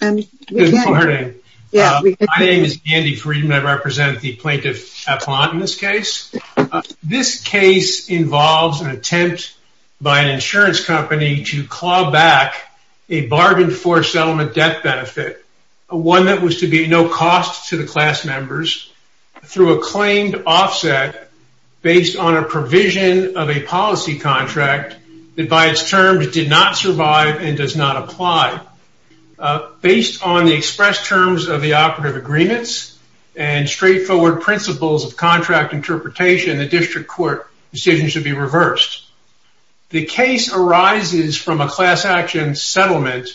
My name is Andy Freedman, I represent the plaintiff appellant in this case. This case involves an attempt by an insurance company to claw back a bargained for settlement debt benefit, one that was to be no cost to the class members through a claimed offset based on a provision of a policy contract that by its terms did not survive and does not apply. Based on the express terms of the operative agreements and straightforward principles of contract interpretation, the district court decision should be reversed. The case arises from a class action settlement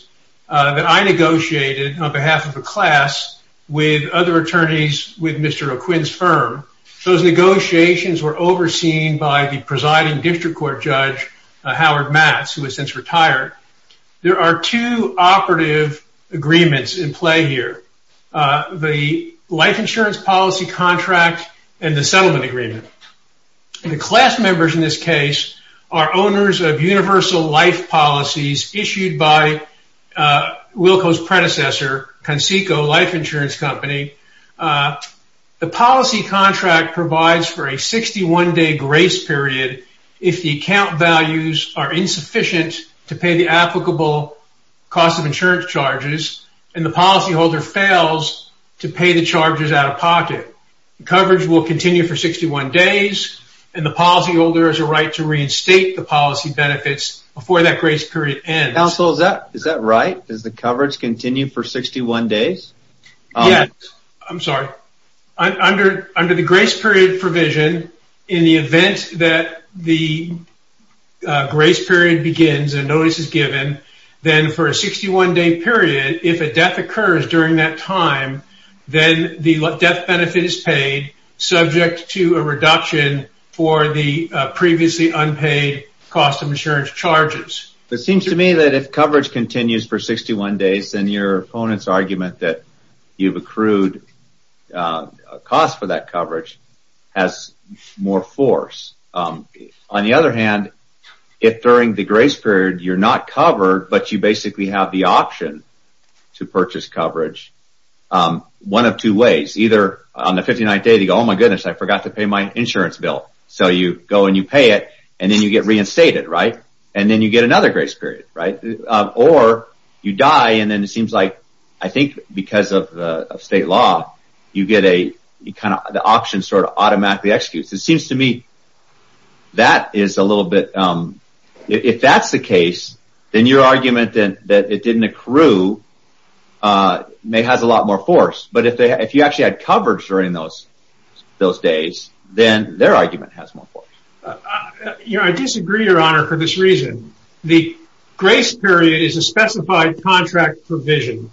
that I negotiated on behalf of a class with other attorneys with Mr. O'Quinn's firm. Those negotiations were overseen by the presiding district court judge, Howard Matz, who has since retired. There are two operative agreements in play here. The life insurance policy contract and the settlement agreement. The class members in this case are owners of universal life policies issued by Wilco's predecessor, Conseco Life Insurance Company. The policy contract provides for a 61 day grace period if the account values are insufficient to pay the applicable cost of insurance charges, and the policyholder fails to pay the charges out of pocket. The coverage will continue for 61 days, and the policyholder has a right to reinstate the policy benefits before that grace period ends. Counsel, is that right? Does the coverage continue for 61 days? Yes. I'm sorry. Under the grace period provision, in the event that the grace period begins and notice is given, then for a 61 day period, if a death occurs during that time, then the death benefit is paid, subject to a reduction for the previously unpaid cost of insurance charges. It seems to me that if coverage continues for 61 days, then your opponent's argument that you've accrued a cost for that coverage has more force. On the other hand, if during the grace period you're not covered, but you basically have the option to purchase coverage, one of two ways. Either on the 59th day, you go, oh my goodness, I forgot to pay my insurance bill. So you go and you pay it, and then you get reinstated, right? And then you get another grace period, right? Or you die, and then it seems like, I think because of state law, you get a kind of the option sort of automatically executes. It seems to me that is a little bit, if that's the case, then your argument that it didn't accrue has a lot more force. But if you actually had coverage during those days, then their argument has more force. I disagree, Your Honor, for this reason. The grace period is a specified contract provision,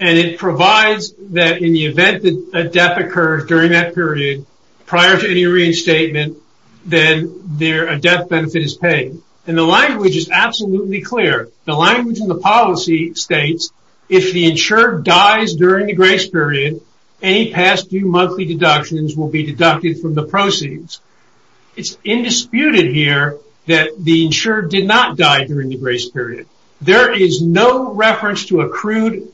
and it provides that in the event that a death occurs during that period, prior to any reinstatement, then a death benefit is paid. And the language is absolutely clear. The language in the policy states if the insured dies during the grace period, any past due monthly deductions will be deducted from the proceeds. It's indisputed here that the insured did not die during the grace period. There is no reference to accrued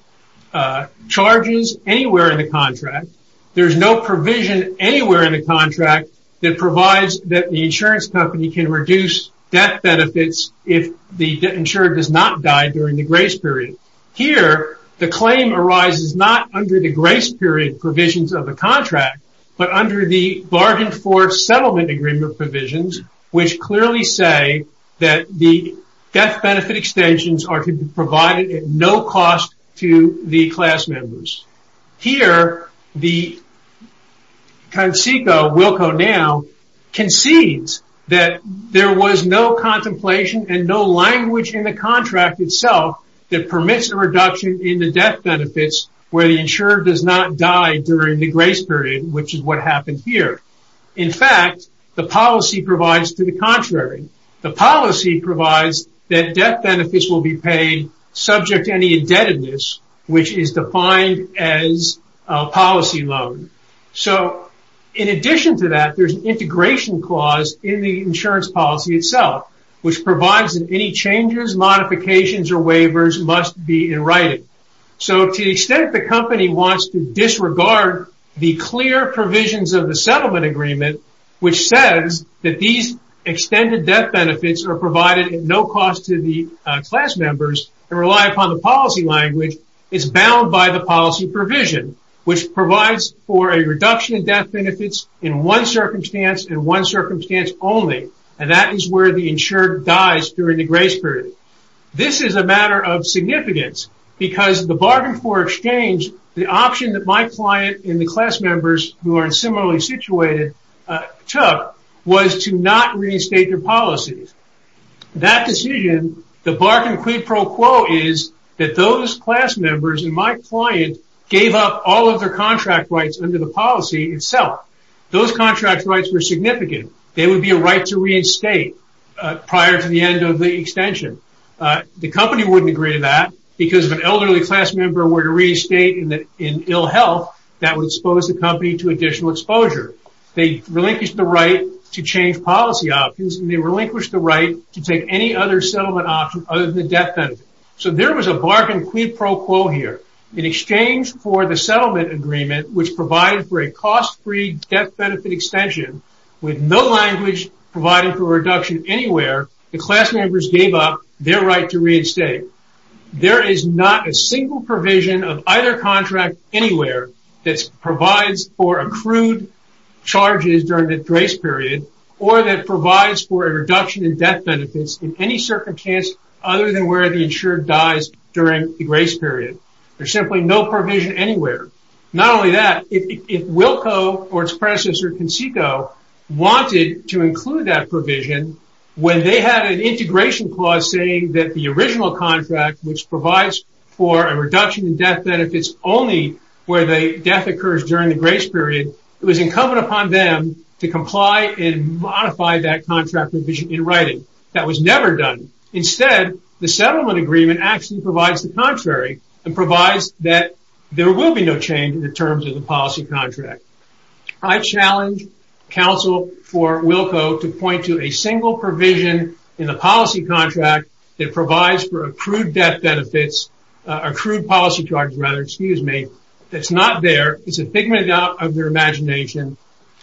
charges anywhere in the contract. There's no provision anywhere in the contract that provides that the insurance company can reduce death benefits if the insured does not die during the grace period. Here, the claim arises not under the grace period provisions of the contract, but under the bargain for settlement agreement provisions, which clearly say that the death benefit extensions are to be provided at no cost to the class members. Here, the Conceicao, Wilco now, concedes that there was no contemplation and no language in the contract itself that permits a reduction in death benefits where the insured does not die during the grace period, which is what happened here. In fact, the policy provides to the contrary. The policy provides that death benefits will be paid subject to any indebtedness, which is defined as a policy loan. So in addition to that, there's an integration clause in the insurance policy itself, which So to the extent the company wants to disregard the clear provisions of the settlement agreement, which says that these extended death benefits are provided at no cost to the class members and rely upon the policy language, it's bound by the policy provision, which provides for a reduction in death benefits in one circumstance and one circumstance only, and that is where the insured dies during the grace period. This is a matter of significance because the bargain for exchange, the option that my client and the class members who are similarly situated took, was to not reinstate their policies. That decision, the bargain quid pro quo is that those class members and my client gave up all of their contract rights under the policy itself. Those contract rights were significant. They would be a right to reinstate prior to the end of the extension. The company wouldn't agree to that because if an elderly class member were to reinstate in ill health, that would expose the company to additional exposure. They relinquished the right to change policy options and they relinquished the right to take any other settlement option other than the death benefit. So there was a bargain quid pro quo here. In exchange for the extension, with no language providing for a reduction anywhere, the class members gave up their right to reinstate. There is not a single provision of either contract anywhere that provides for accrued charges during the grace period or that provides for a reduction in death benefits in any circumstance other than where the insured dies during the grace period. There's wanted to include that provision when they had an integration clause saying that the original contract which provides for a reduction in death benefits only where the death occurs during the grace period, it was incumbent upon them to comply and modify that contract provision in writing. That was never done. Instead, the settlement agreement actually provides the contrary and counsel for Wilco to point to a single provision in the policy contract that provides for accrued death benefits, accrued policy charges rather, excuse me, that's not there. It's a figment of their imagination.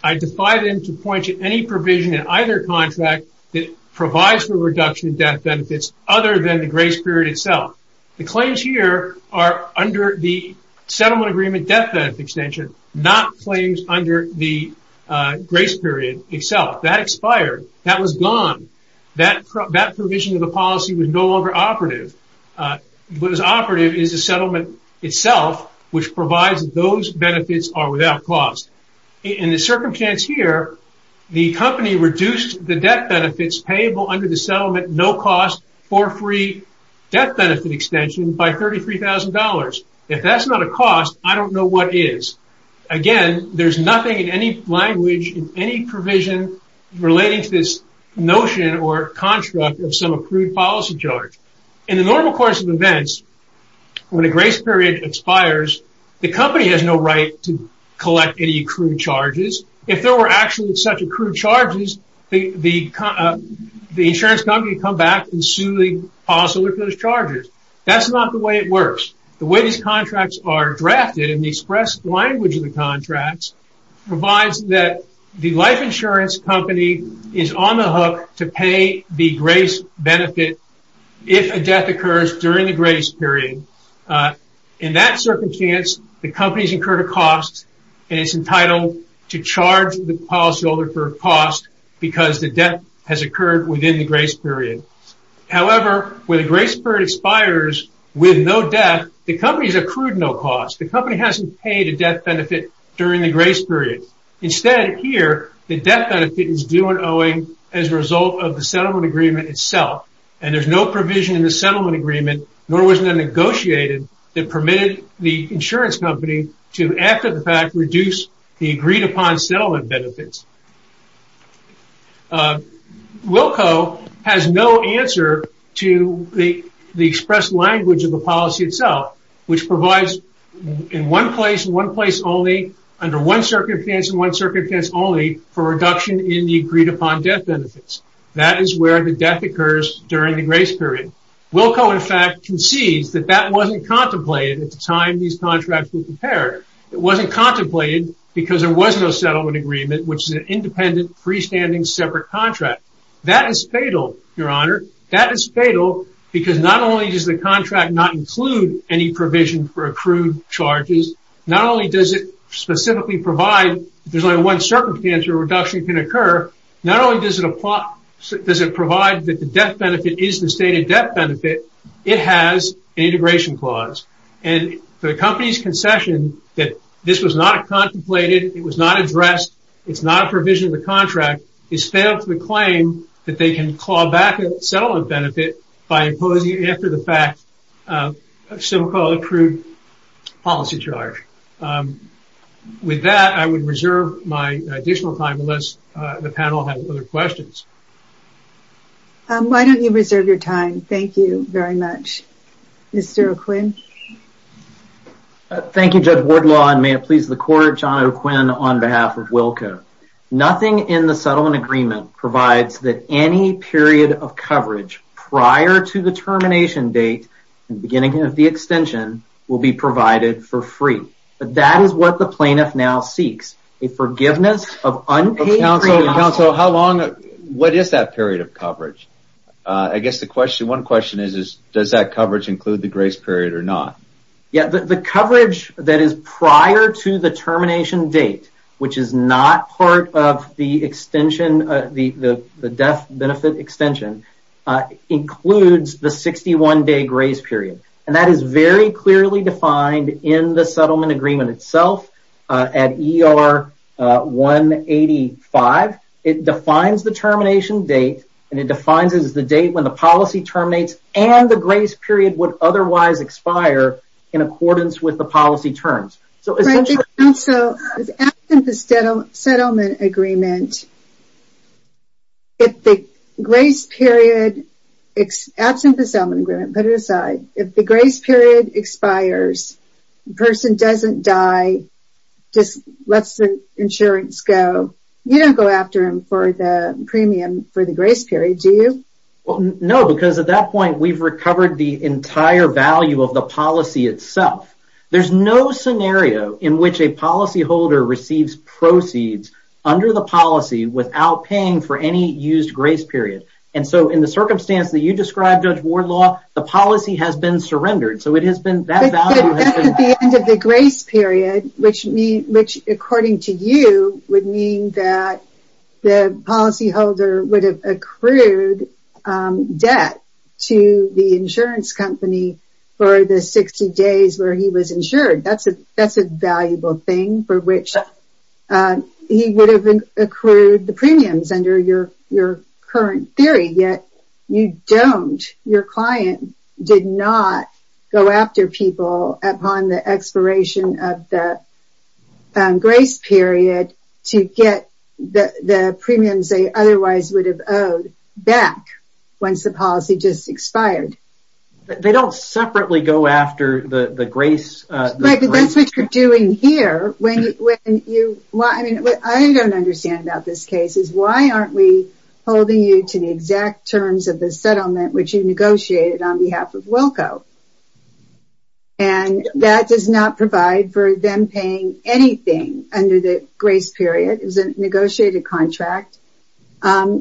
I defy them to point to any provision in either contract that provides for reduction in death benefits other than the grace period itself. The claims here are under the grace period itself. That expired. That was gone. That provision of the policy was no longer operative. What is operative is the settlement itself which provides those benefits are without cost. In the circumstance here, the company reduced the death benefits payable under the settlement no cost for free death benefit extension by $33,000. If that's not a cost, I don't know what is. Again, there's nothing in any language in any provision relating to this notion or construct of some accrued policy charge. In the normal course of events, when a grace period expires, the company has no right to collect any accrued charges. If there were actually such accrued charges, the insurance company come back and sue the company. The way these contracts are drafted in the express language of the contracts provides that the life insurance company is on the hook to pay the grace benefit if a death occurs during the grace period. In that circumstance, the company's incurred a cost and it's entitled to charge the policyholder for cost because the death has occurred within the grace period. However, when the grace period expires with no death, the company has accrued no cost. The company hasn't paid a death benefit during the grace period. Instead, here, the death benefit is due and owing as a result of the settlement agreement itself. There's no provision in the settlement agreement nor was it negotiated that permitted the insurance company to after the fact reduce the agreed-upon settlement benefits. Wilco has no answer to the express language of the policy itself, which provides in one place, in one place only, under one circumstance, in one circumstance only for reduction in the agreed-upon death benefits. That is where the death occurs during the grace period. Wilco in fact concedes that that wasn't contemplated at the time these contracts were prepared. It wasn't contemplated because there was no settlement agreement, which is an independent, freestanding, separate contract. That is fatal, your honor. That is fatal because not only does the contract not include any provision for accrued charges, not only does it specifically provide, there's only one circumstance where reduction can occur, not only does it apply, does it provide that the death benefit is the stated death benefit, it has an integration clause. And for the company's concession that this was not contemplated, it was not addressed, it's not a provision of the contract, it's fatal to the claim that they can claw back a settlement benefit by imposing after the fact a civil code accrued policy charge. With that, I would reserve my additional time unless the panel has other questions. Why don't you reserve your time? Thank you very much. Mr. O'Quinn. Thank you, Judge Wardlaw, and may it please the court, John O'Quinn on behalf of WILCO. Nothing in the settlement agreement provides that any period of coverage prior to the termination date and beginning of the extension will be provided for free. But that is what the plaintiff now seeks, a forgiveness of unpaid... Counsel, what is that period of coverage? I guess one question is, does that coverage include the grace period or not? The coverage that is prior to the termination date, which is not part of the death benefit extension, includes the 61-day grace period. And that is very clearly defined in the settlement date when the policy terminates and the grace period would otherwise expire in accordance with the policy terms. If the grace period expires, the person doesn't die, just lets the insurance go. You don't go after him for the premium for the grace period, do you? No, because at that point, we've recovered the entire value of the policy itself. There's no scenario in which a policyholder receives proceeds under the policy without paying for any used grace period. And so, in the circumstance that you described, Judge Wardlaw, the policy has been surrendered. So, it has been... But that's at the end of the grace period, which according to you would mean that the policyholder would have accrued debt to the insurance company for the 60 days where he was insured. That's a valuable thing for which he would have accrued the premiums under your current theory. Yet, you don't. Your client did not go after people upon the expiration of the grace period to get the premiums they otherwise would have owed back once the policy just expired. They don't separately go after the grace period. Right, but that's what you're doing here. What I don't understand about this case is, why aren't we holding you to the exact terms of the settlement which you negotiated on behalf of Wilco? And that does not provide for them paying anything under the grace period. It's a negotiated contract in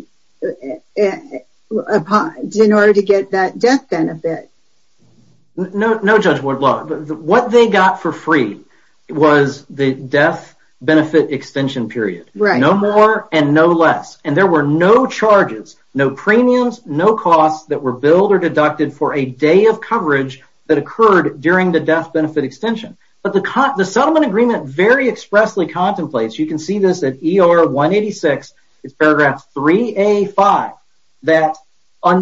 order to get that death benefit. No, Judge Wardlaw. What they got for free was the death benefit extension period. No more and no less. And there were no charges, no premiums, no costs that were billed or deducted for a day of coverage that occurred during the death benefit extension. But the settlement agreement very expressly contemplates, you can see paragraph 5 on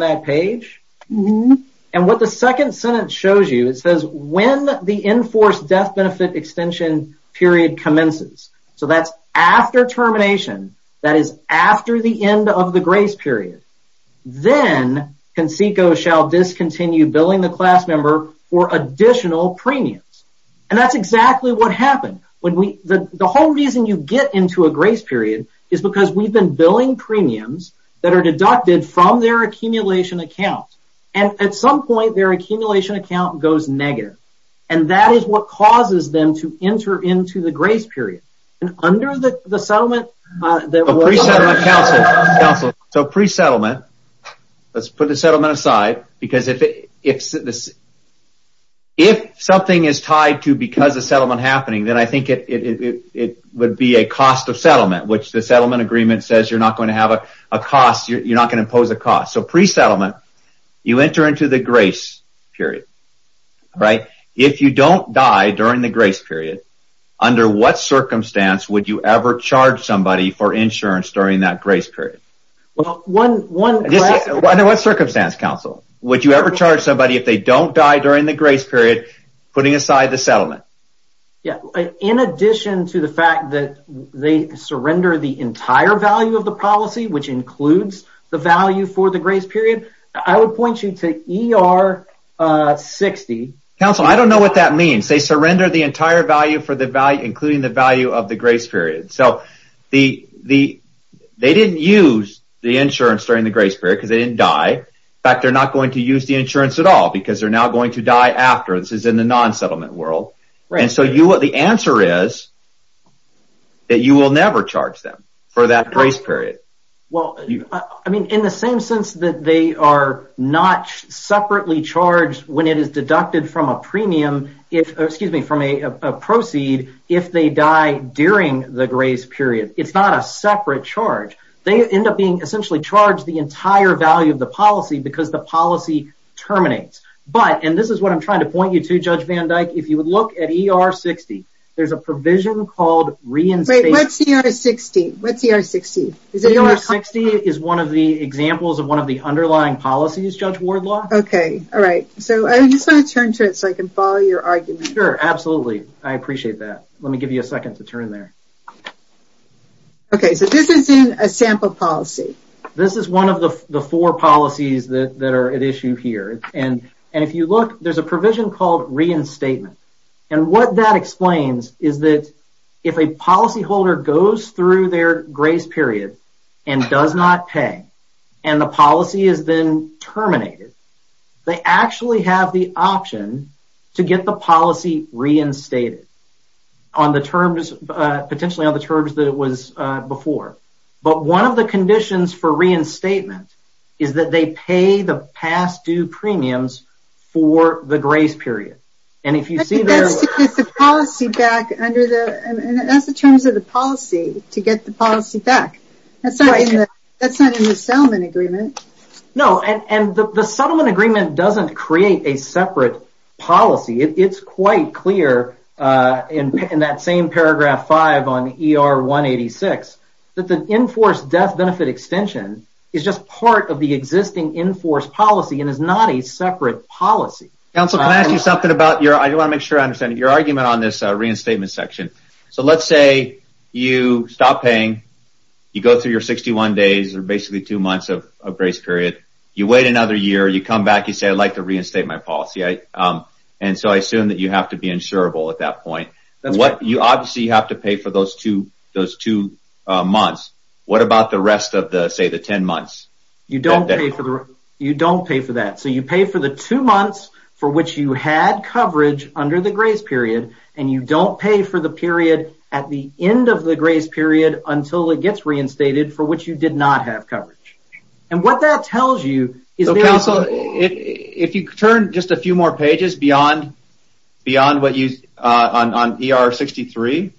that page. And what the second sentence shows you, it says, when the enforced death benefit extension period commences, so that's after termination, that is after the end of the grace period, then CONSECO shall discontinue billing the class member for additional premiums. And that's exactly what happened. The whole reason you get into a grace period is because we've been billing premiums that are deducted from their accumulation account. And at some point, their accumulation account goes negative. And that is what causes them to enter into the grace period. And under the settlement... Pre-settlement, counsel, counsel. So pre-settlement, let's put the settlement aside. Because if something is tied to because settlement happening, then I think it would be a cost of settlement, which the settlement agreement says you're not going to have a cost, you're not going to impose a cost. So pre-settlement, you enter into the grace period, right? If you don't die during the grace period, under what circumstance would you ever charge somebody for insurance during that grace period? Well, one... Under what circumstance, counsel? Would you ever charge somebody if they don't die during the grace period, putting aside the settlement? Yeah. In addition to the fact that they surrender the entire value of the policy, which includes the value for the grace period, I would point you to ER 60. Counsel, I don't know what that means. They surrender the entire value for the value, including the value of the grace period. So they didn't use the insurance during the grace period because they didn't die. In fact, they're not going to use the insurance at all because they're now going to die after. This is in the non-settlement world. And so the answer is that you will never charge them for that grace period. Well, I mean, in the same sense that they are not separately charged when it is deducted from a premium, excuse me, from a proceed if they die during the grace period. It's not a separate charge. They end up being essentially charged the policy terminates. But, and this is what I'm trying to point you to, Judge Van Dyke, if you would look at ER 60, there's a provision called reinstatement. What's ER 60? ER 60 is one of the examples of one of the underlying policies, Judge Wardlaw. Okay. All right. So I just want to turn to it so I can follow your argument. Sure. Absolutely. I appreciate that. Let me give you a second to turn there. Okay. So this is in a sample policy. This is one of the four policies that are at issue here. And if you look, there's a provision called reinstatement. And what that explains is that if a policyholder goes through their grace period and does not pay, and the policy is then terminated, they actually have the option to get the policy reinstated on the terms, potentially on the terms that it was before. But one of the conditions for paying the past due premiums for the grace period. And if you see there... That's to get the policy back under the, that's the terms of the policy to get the policy back. That's not in the settlement agreement. No. And the settlement agreement doesn't create a separate policy. It's quite clear in that same paragraph five on ER 186, that the enforced death benefit extension is just part of the existing enforced policy and is not a separate policy. Counselor, can I ask you something about your, I want to make sure I understand it, your argument on this reinstatement section. So let's say you stop paying. You go through your 61 days or basically two months of grace period. You wait another year, you come back, you say, I'd like to reinstate my policy. And so I assume that you have to be insurable at that month. What about the rest of the, say the 10 months? You don't pay for the, you don't pay for that. So you pay for the two months for which you had coverage under the grace period and you don't pay for the period at the end of the grace period until it gets reinstated for which you did not have coverage. And what that tells you is... Counselor, if you turn just a few more pages beyond what you, on ER 63,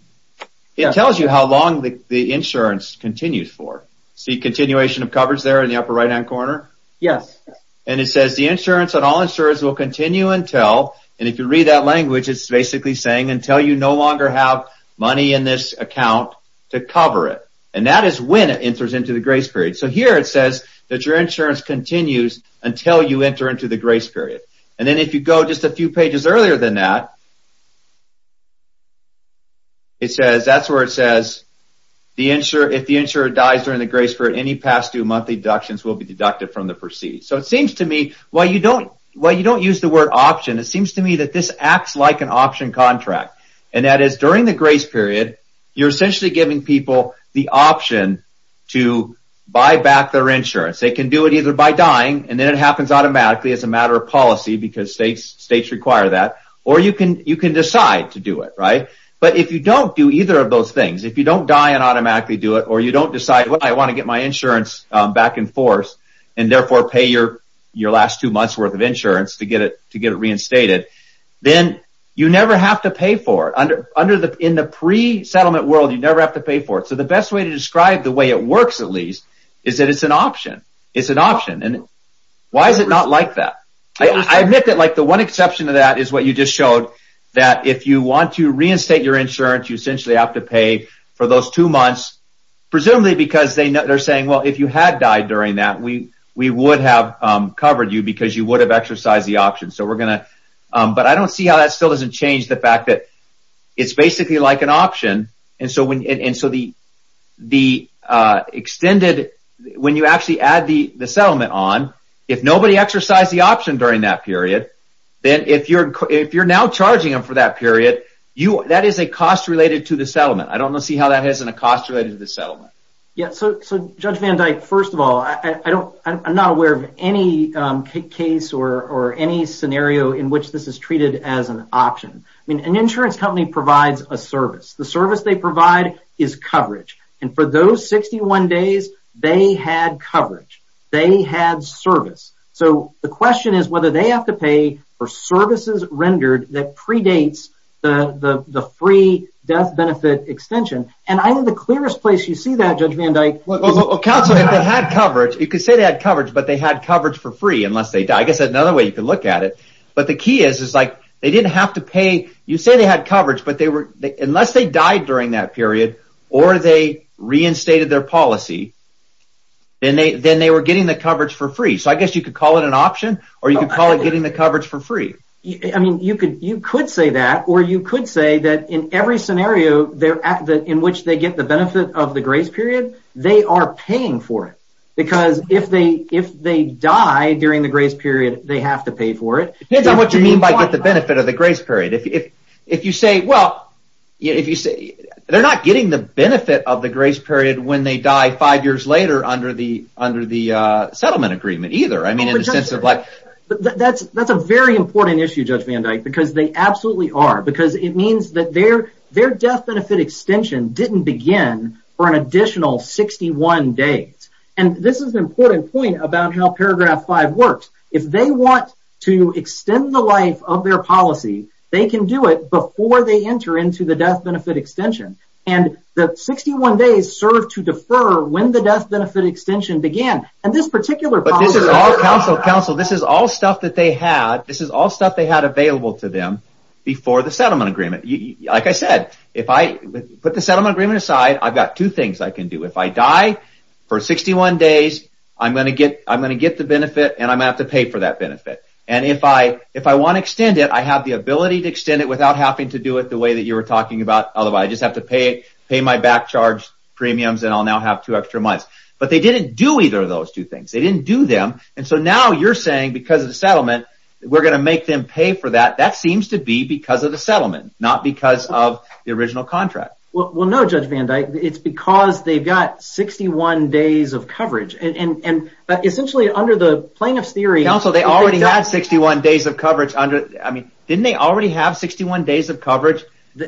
it tells you how long the insurance continues for. See continuation of coverage there in the upper right hand corner? Yes. And it says the insurance on all insurers will continue until, and if you read that language, it's basically saying until you no longer have money in this account to cover it. And that is when it enters into the grace period. So here it says that your insurance continues until you enter into the grace period. And then if you go just a few pages earlier than that, it says, that's where it says the insurer, if the insurer dies during the grace period, any past due monthly deductions will be deducted from the proceeds. So it seems to me, while you don't, while you don't use the word option, it seems to me that this acts like an option contract. And that is during the grace period, you're essentially giving people the option to buy back their insurance. They can do it either by dying and then it happens automatically as a matter of policy, because states require that, or you can decide to do it, right? But if you don't do either of those things, if you don't die and automatically do it, or you don't decide, well, I want to get my insurance back in force, and therefore pay your last two months worth of insurance to get it reinstated, then you never have to pay for it. In the pre-settlement world, you never have to pay for it. So the best way to describe the way it works, at least, is that it's an option. It's an option. And why is it not like that? I admit that the one exception to that is what you just showed, that if you want to reinstate your insurance, you essentially have to pay for those two months, presumably because they're saying, well, if you had died during that, we would have covered you because you would have exercised the option. But I don't see how that still doesn't change the fact that it's basically like an option. And so the extended, when you actually add the settlement on, if nobody exercised the option during that period, then if you're now charging them for that period, that is a cost related to the settlement. I don't see how that isn't a cost related to the settlement. Yeah. So Judge Van Dyke, first of all, I'm not aware of any case or any scenario in which this is treated as an option. I mean, an insurance company provides a service. The service they provide is coverage. And for those 61 days, they had coverage. They had service. So the question is whether they have to pay for services rendered that predates the free death benefit extension. And I think the clearest place you see that, Judge Van Dyke, is- Counsel, if they had coverage, you could say they had coverage, but they had coverage for free unless they died. I guess that's another way you could look at it. But the key is they didn't have to pay. You say they had coverage, but unless they died during that period or they reinstated their policy, then they were getting the coverage for free. So I guess you could call it an option or you could call it getting the coverage for free. I mean, you could say that. Or you could say that in every scenario in which they get the benefit of the grace period, they are paying for it. Because if they die during the grace period, they have to pay for it. It depends on what you mean by get the benefit of the grace period. If you say, well, they're not getting the benefit of the grace period when they die five years later under the settlement agreement either. I mean, in the sense of like- That's a very important issue, Judge Van Dyke, because they absolutely are. Because it means their death benefit extension didn't begin for an additional 61 days. And this is an important point about how paragraph five works. If they want to extend the life of their policy, they can do it before they enter into the death benefit extension. And the 61 days serve to defer when the death benefit extension began. And this particular- But this is all stuff that they had. This is all stuff they had available to them before the settlement agreement. Like I said, if I put the settlement agreement aside, I've got two things I can do. If I die for 61 days, I'm going to get the benefit and I'm going to have to pay for that benefit. And if I want to extend it, I have the ability to extend it without having to do it the way that you were talking about. Otherwise, I just have to pay my back charge premiums and I'll now have two extra months. But they didn't do either of those two things. They didn't do them. And so now you're saying because of the settlement, we're going to make them pay for that. That seems to be because of the settlement, not because of the original contract. Well, no, Judge Van Dyke, it's because they've got 61 days of coverage. And essentially under the plaintiff's theory- Counsel, they already had 61 days of coverage. I mean, didn't they already have 61 days of coverage?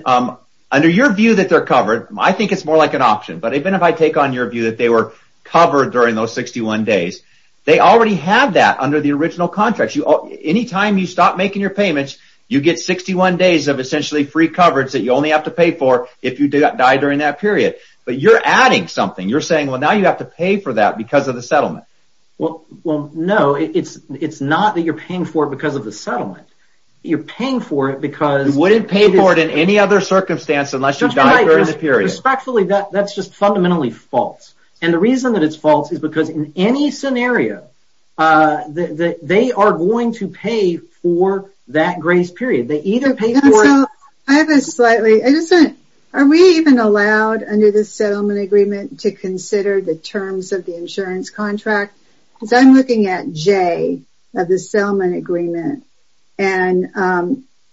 Under your view that they're covered, I think it's more like an option. But even if I take on your view that they were covered during those 61 days, they already have that under the original contract. Anytime you stop making your payments, you get 61 days of essentially free coverage that you only have to pay for if you die during that period. But you're adding something. You're saying, well, now you have to pay for that because of the settlement. Well, no, it's not that you're paying for it because of the settlement. You're paying for it because- You wouldn't pay for it in any other circumstance unless you died during the period. Respectfully, that's just fundamentally false. And the reason that it's false is because in any scenario, they are going to pay for that grace period. They either pay for it- Counsel, I have a slightly- Are we even allowed under the settlement agreement to consider the terms of the insurance contract? Because I'm looking at J of the settlement agreement. And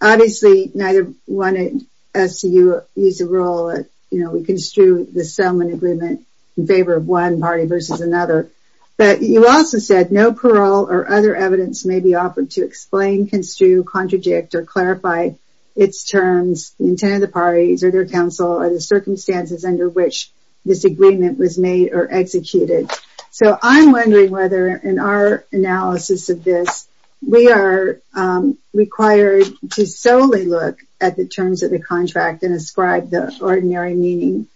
obviously, neither one of us use a role. We construe the settlement agreement in favor of one party versus another. But you also said, no parole or other evidence may be offered to explain, construe, contradict, or clarify its terms, the intent of the parties, or their counsel, or the circumstances under which this agreement was made or executed. So I'm wondering whether in our analysis of this, we are required to solely look at the terms of the contract and ascribe the ordinary meaning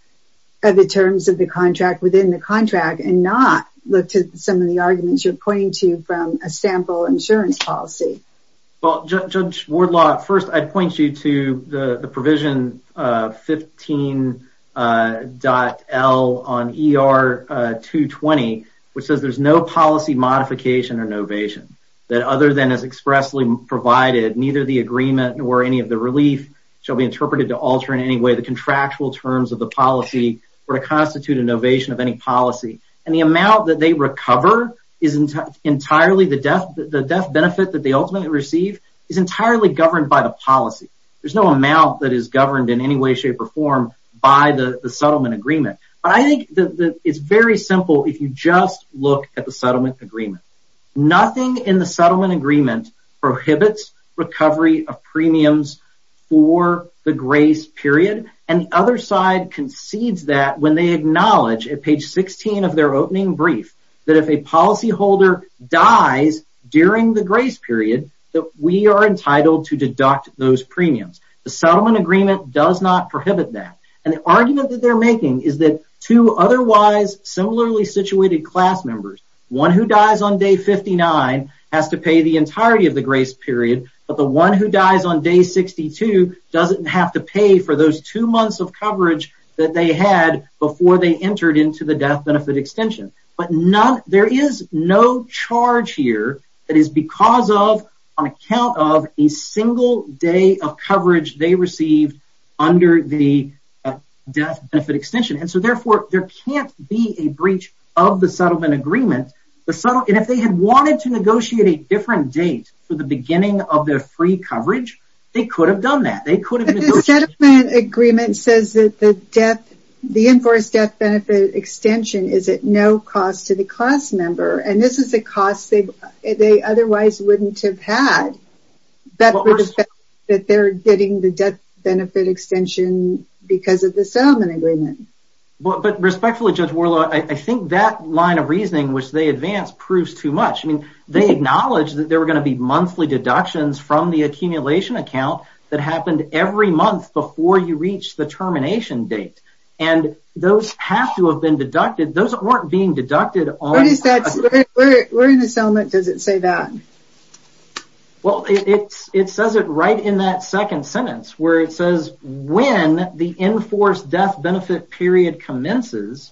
of the terms of the contract within the contract and not look to some of the arguments you're pointing to from a sample insurance policy. Well, Judge Wardlaw, first, I'd point you to the provision 15.L on ER 220, which says there's no policy modification or expressly provided, neither the agreement or any of the relief shall be interpreted to alter in any way the contractual terms of the policy or to constitute an ovation of any policy. And the amount that they recover is entirely the death benefit that they ultimately receive is entirely governed by the policy. There's no amount that is governed in any way, shape, or form by the settlement agreement. But I think it's very simple if you just look at the settlement agreement. Nothing in the settlement agreement prohibits recovery of premiums for the grace period. And the other side concedes that when they acknowledge at page 16 of their opening brief, that if a policyholder dies during the grace period, that we are entitled to deduct those premiums. The settlement agreement does not prohibit that. And the argument that they're 59 has to pay the entirety of the grace period. But the one who dies on day 62 doesn't have to pay for those two months of coverage that they had before they entered into the death benefit extension. But there is no charge here that is because of an account of a single day of coverage they received under the death benefit extension. And so, therefore, there can't be a breach of the And if they had wanted to negotiate a different date for the beginning of their free coverage, they could have done that. But the settlement agreement says that the death, the enforced death benefit extension is at no cost to the class member. And this is a cost they otherwise wouldn't have had. That they're getting the death benefit extension because of the settlement agreement. But respectfully, Judge Worlow, I think that line of reasoning, which they advance, proves too much. I mean, they acknowledge that there were going to be monthly deductions from the accumulation account that happened every month before you reach the termination date. And those have to have been deducted. Those weren't being deducted. Where in the settlement does it say that? Well, it says it right in that second sentence, where it says, when the enforced death benefit period commences,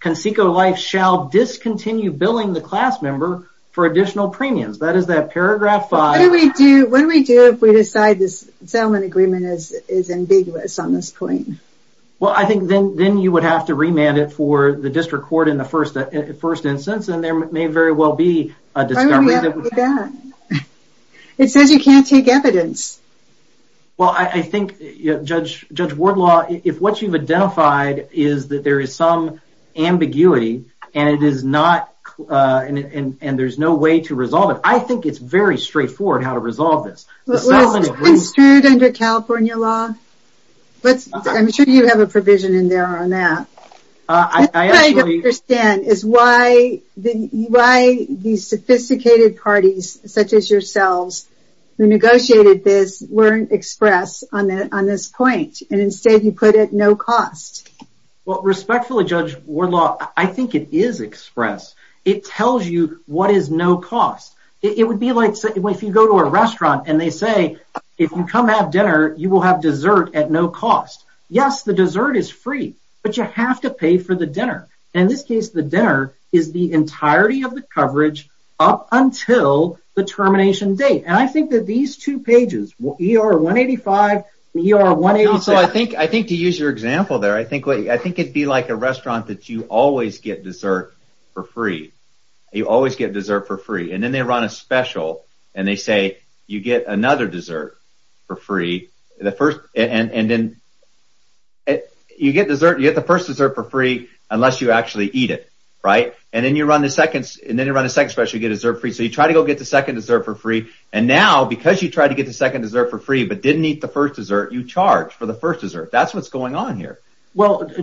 Conseco Life shall discontinue billing the class member for additional premiums. That is that paragraph five. What do we do if we decide this settlement agreement is ambiguous on this point? Well, I think then you would have to remand it for the district court in the first instance, and there may very well be a discovery. Why would we have to do that? It says you can't take evidence. Well, I think, Judge Worlow, if what you've identified is that there is some ambiguity, and it is not, and there's no way to resolve it, I think it's very straightforward how to resolve this. Was this construed under California law? I'm sure you have a provision in there on that. What I don't understand is why these sophisticated parties, such as yourselves, who negotiated this weren't expressed on this point, and instead you put it no cost. Well, respectfully, Judge Worlow, I think it is expressed. It tells you what is no cost. It would be like if you go to a restaurant and they say, if you come have dinner, you will have dessert at no cost. Yes, the dessert is free, but you have to pay for the dinner. In this case, the dinner is the entirety of the coverage up until the termination date, and I think that these two pages, ER 185 and ER 186. I think to use your example there, I think it would be like a restaurant that you always get dessert for free. You always get dessert for free, and then they a special and they say you get another dessert for free. You get the first dessert for free unless you actually eat it, and then you run a second special, you get dessert for free, so you try to go get the second dessert for free. Now, because you tried to get the second dessert for free but didn't eat the first dessert, you charge for the first dessert. That's what's going on here.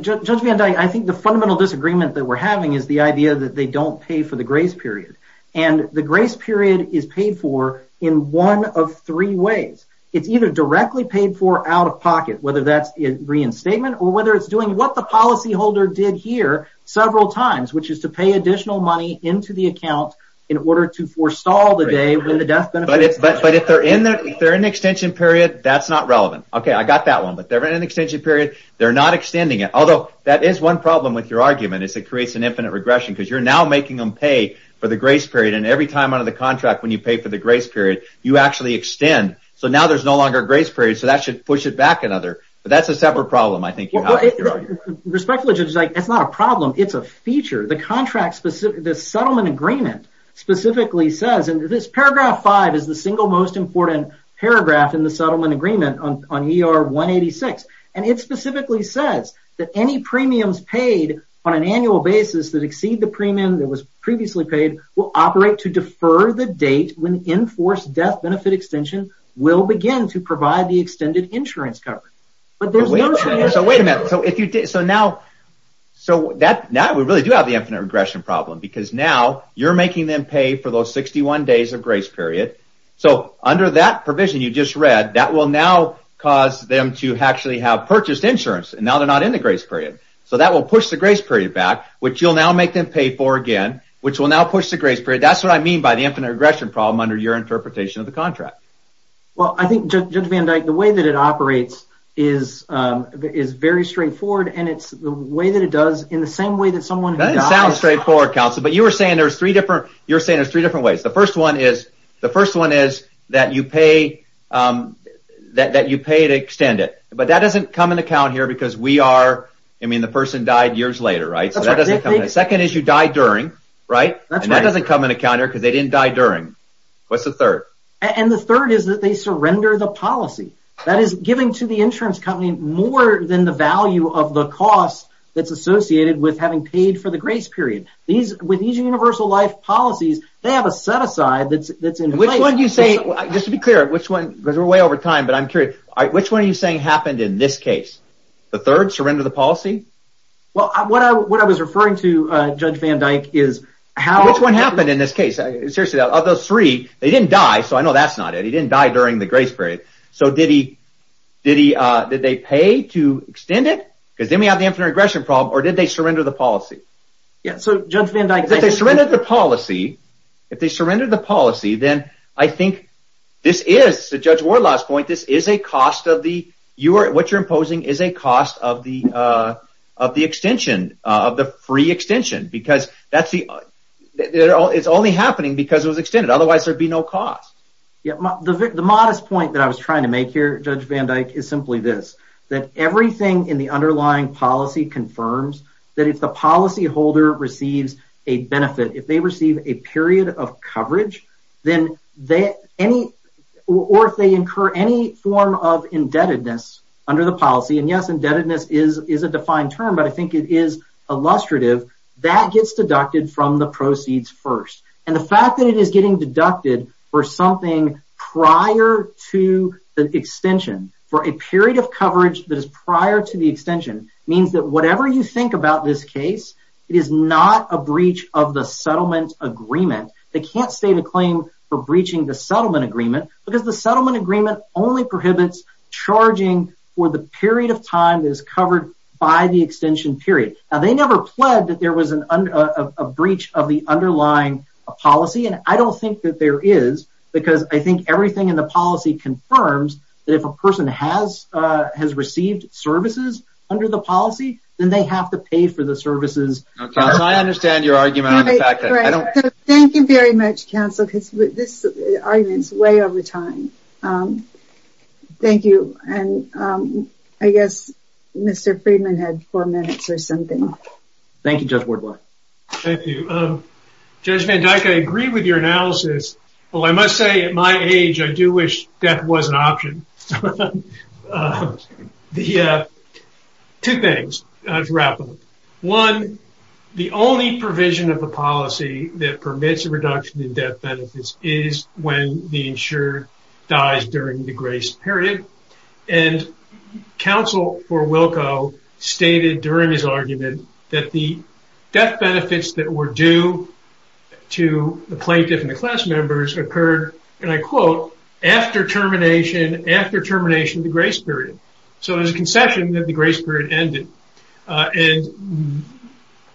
Judge Van Dyke, I think the fundamental disagreement that we're having is the idea that they don't pay for the grace period, and the grace period is paid for in one of three ways. It's either directly paid for out of pocket, whether that's a reinstatement or whether it's doing what the policyholder did here several times, which is to pay additional money into the account in order to forestall the day when the death benefit… If they're in an extension period, that's not relevant. Okay, I got that one, but they're in an extension period. They're not extending it, although that is one problem with your argument is it creates an infinite regression because you're now making them pay for the grace period, and every time under the contract when you pay for the grace period, you actually extend, so now there's no longer a grace period, so that should push it back another, but that's a separate problem, I think. Respectfully, Judge Van Dyke, it's not a problem. It's a feature. The settlement agreement specifically says, and this paragraph five is the single most important paragraph in the settlement agreement on ER 186, and it specifically says that any premiums paid on an annual basis that exceed the premium that was previously paid will operate to defer the date when the enforced death benefit extension will begin to provide the extended insurance coverage, but there's no… Wait a minute, so now we really do have the infinite regression problem because now you're making them pay for those 61 days of grace period, so under that provision you just read, that will now cause them to actually have purchased insurance, and now they're not in the grace period, so that will push the grace period back, which you'll now make them pay for again, which will now push the grace period. That's what I mean by the infinite regression problem under your interpretation of the contract. Well, I think, Judge Van Dyke, the way that it operates is very straightforward, and it's the way that it does in the same way that someone… That doesn't sound straightforward, counsel, but you were saying there's three different ways. The first one is that you pay to extend it, but that doesn't come into account here because we are, I mean, the person died years later, right, so that doesn't come in. The second is you die during, right, and that doesn't come into account here because they didn't die during. What's the third? And the third is that they surrender the policy. That is giving to the insurance company more than the value of the cost that's associated with having paid for the grace period. With these universal life policies, they have a set aside that's in place. Which one are you saying, just to be clear, because we're way over time, but I'm curious, which one are you saying happened in this case? The third, surrender the policy? Well, what I was referring to, Judge Van Dyke, is how… Which one happened in this case? Seriously, of those three, they didn't die, so I know that's not it. He didn't die during the grace period, so did they pay to extend it because then we have the infinite regression problem, or did they surrender the policy? Yeah, so Judge Van Dyke… If they surrendered the policy, then I think this is, to Judge Wardlaw's point, this is a cost of the… What you're imposing is a cost of the extension, of the free extension, because that's the… It's only happening because it was extended. Otherwise, there'd be no cost. Yeah, the modest point that I was trying to make here, Judge Van Dyke, is simply this, that everything in the underlying policy confirms that if the policyholder receives a benefit, if they receive a period of coverage, then they… Or if they incur any form of indebtedness under the policy, and yes, indebtedness is a defined term, but I think it is illustrative, that gets deducted from the proceeds first. And the fact that it is getting deducted for something prior to the extension, for a period of coverage that is prior to the extension, means that whatever you think about this case, it is not a breach of the settlement agreement. They can't state a claim for breaching the settlement agreement, because the settlement agreement only prohibits charging for the period of time that is covered by the extension period. Now, they never pled that there was a breach of the underlying policy, and I don't think that there is, because I think everything in the policy confirms that if a person has received services under the policy, then they have to pay for the services. I understand your argument on the fact that… Thank you very much, counsel, because this argument is way over time. Thank you, and I guess Mr. Friedman had four minutes or something. Thank you, Judge Wardboy. Thank you. Judge Van Dyke, I agree with your analysis. Well, I must say, at my age, I do wish death was an option. Two things, to wrap up. One, the only provision of the policy that permits a reduction in death benefits is when the insured dies during the grace period, and counsel for Wilco stated during his occurred, and I quote, after termination of the grace period. So, there's a concession that the grace period ended, and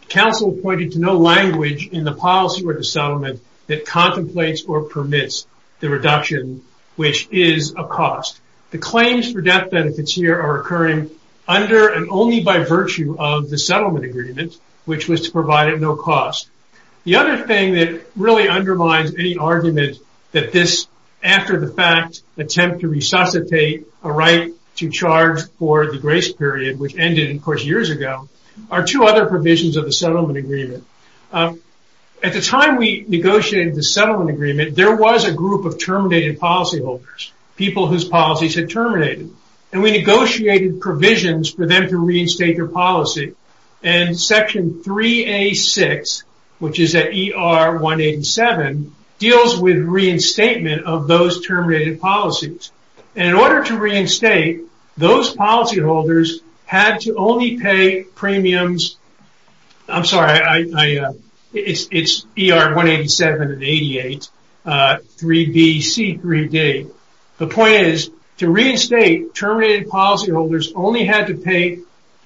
counsel pointed to no language in the policy or the settlement that contemplates or permits the reduction, which is a cost. The claims for death benefits here are occurring under and only by virtue of the settlement agreement, which was to provide at no cost. The other thing that really undermines any argument that this, after the fact, attempt to resuscitate a right to charge for the grace period, which ended, of course, years ago, are two other provisions of the settlement agreement. At the time we negotiated the settlement agreement, there was a group of terminated policyholders, people whose policies had terminated, and we negotiated provisions for them to reinstate their policy, and section 3A6, which is at ER 187, deals with reinstatement of those terminated policies, and in order to reinstate, those policyholders had to only pay premiums, I'm sorry, it's ER 187 and 88, 3BC3D. The point is, to reinstate, terminated policyholders only had to pay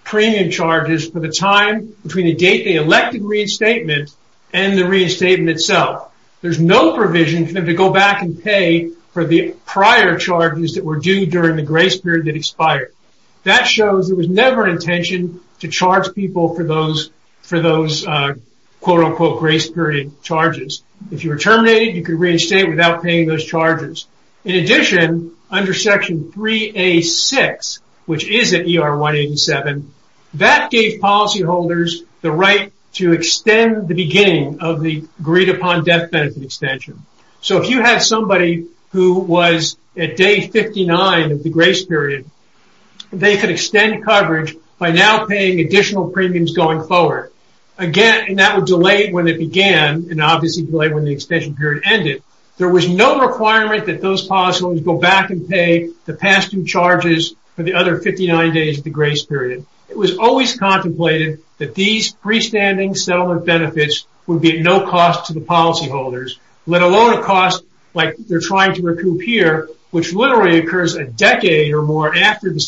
premium charges for the time between the date they elected reinstatement and the reinstatement itself. There's no provision for them to go back and pay for the prior charges that were due during the grace period that expired. That shows there was never an intention to charge people for those quote-unquote grace period charges. If you were terminated, you could reinstate without paying those charges. In addition, under section 3A6, which is at ER 187, that gave policyholders the right to extend the beginning of the agreed-upon death benefit extension. So, if you had somebody who was at day 59 of the grace period, they could extend coverage by now paying additional premiums going forward. Again, and that would delay when it began and obviously delay when the extension period ended. There was no requirement that those policyholders go back and pay the past due charges for the other 59 days of the grace period. It was always contemplated that these freestanding settlement benefits would be at no cost to the policyholders, let alone a cost like they're trying to recoup here, which literally occurs a decade or more after the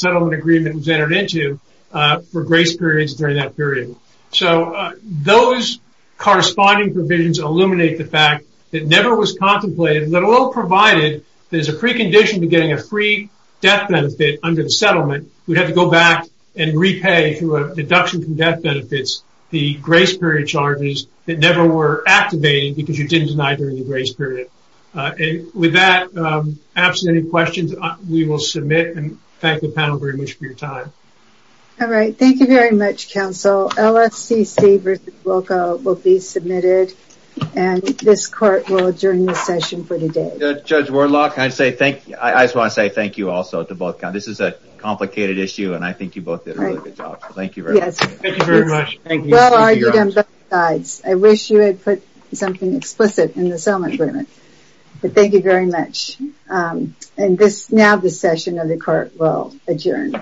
person has entered into for grace periods during that period. So, those corresponding provisions illuminate the fact that never was contemplated, let alone provided there's a precondition to getting a free death benefit under the settlement. We'd have to go back and repay through a deduction from death benefits the grace period charges that never were activated because you didn't deny during the grace period. And with that, perhaps any questions, we will submit and thank the panel very much for your time. All right. Thank you very much, counsel. LFCC versus WOCA will be submitted and this court will adjourn the session for the day. Judge Wardlock, I say thank you. I just want to say thank you also to both. This is a complicated issue and I think you both did a really good job. So, thank you very much. Thank you very much. Thank you. I wish you had put something explicit in the settlement agreement, but thank you very much. And now the session of the court will adjourn.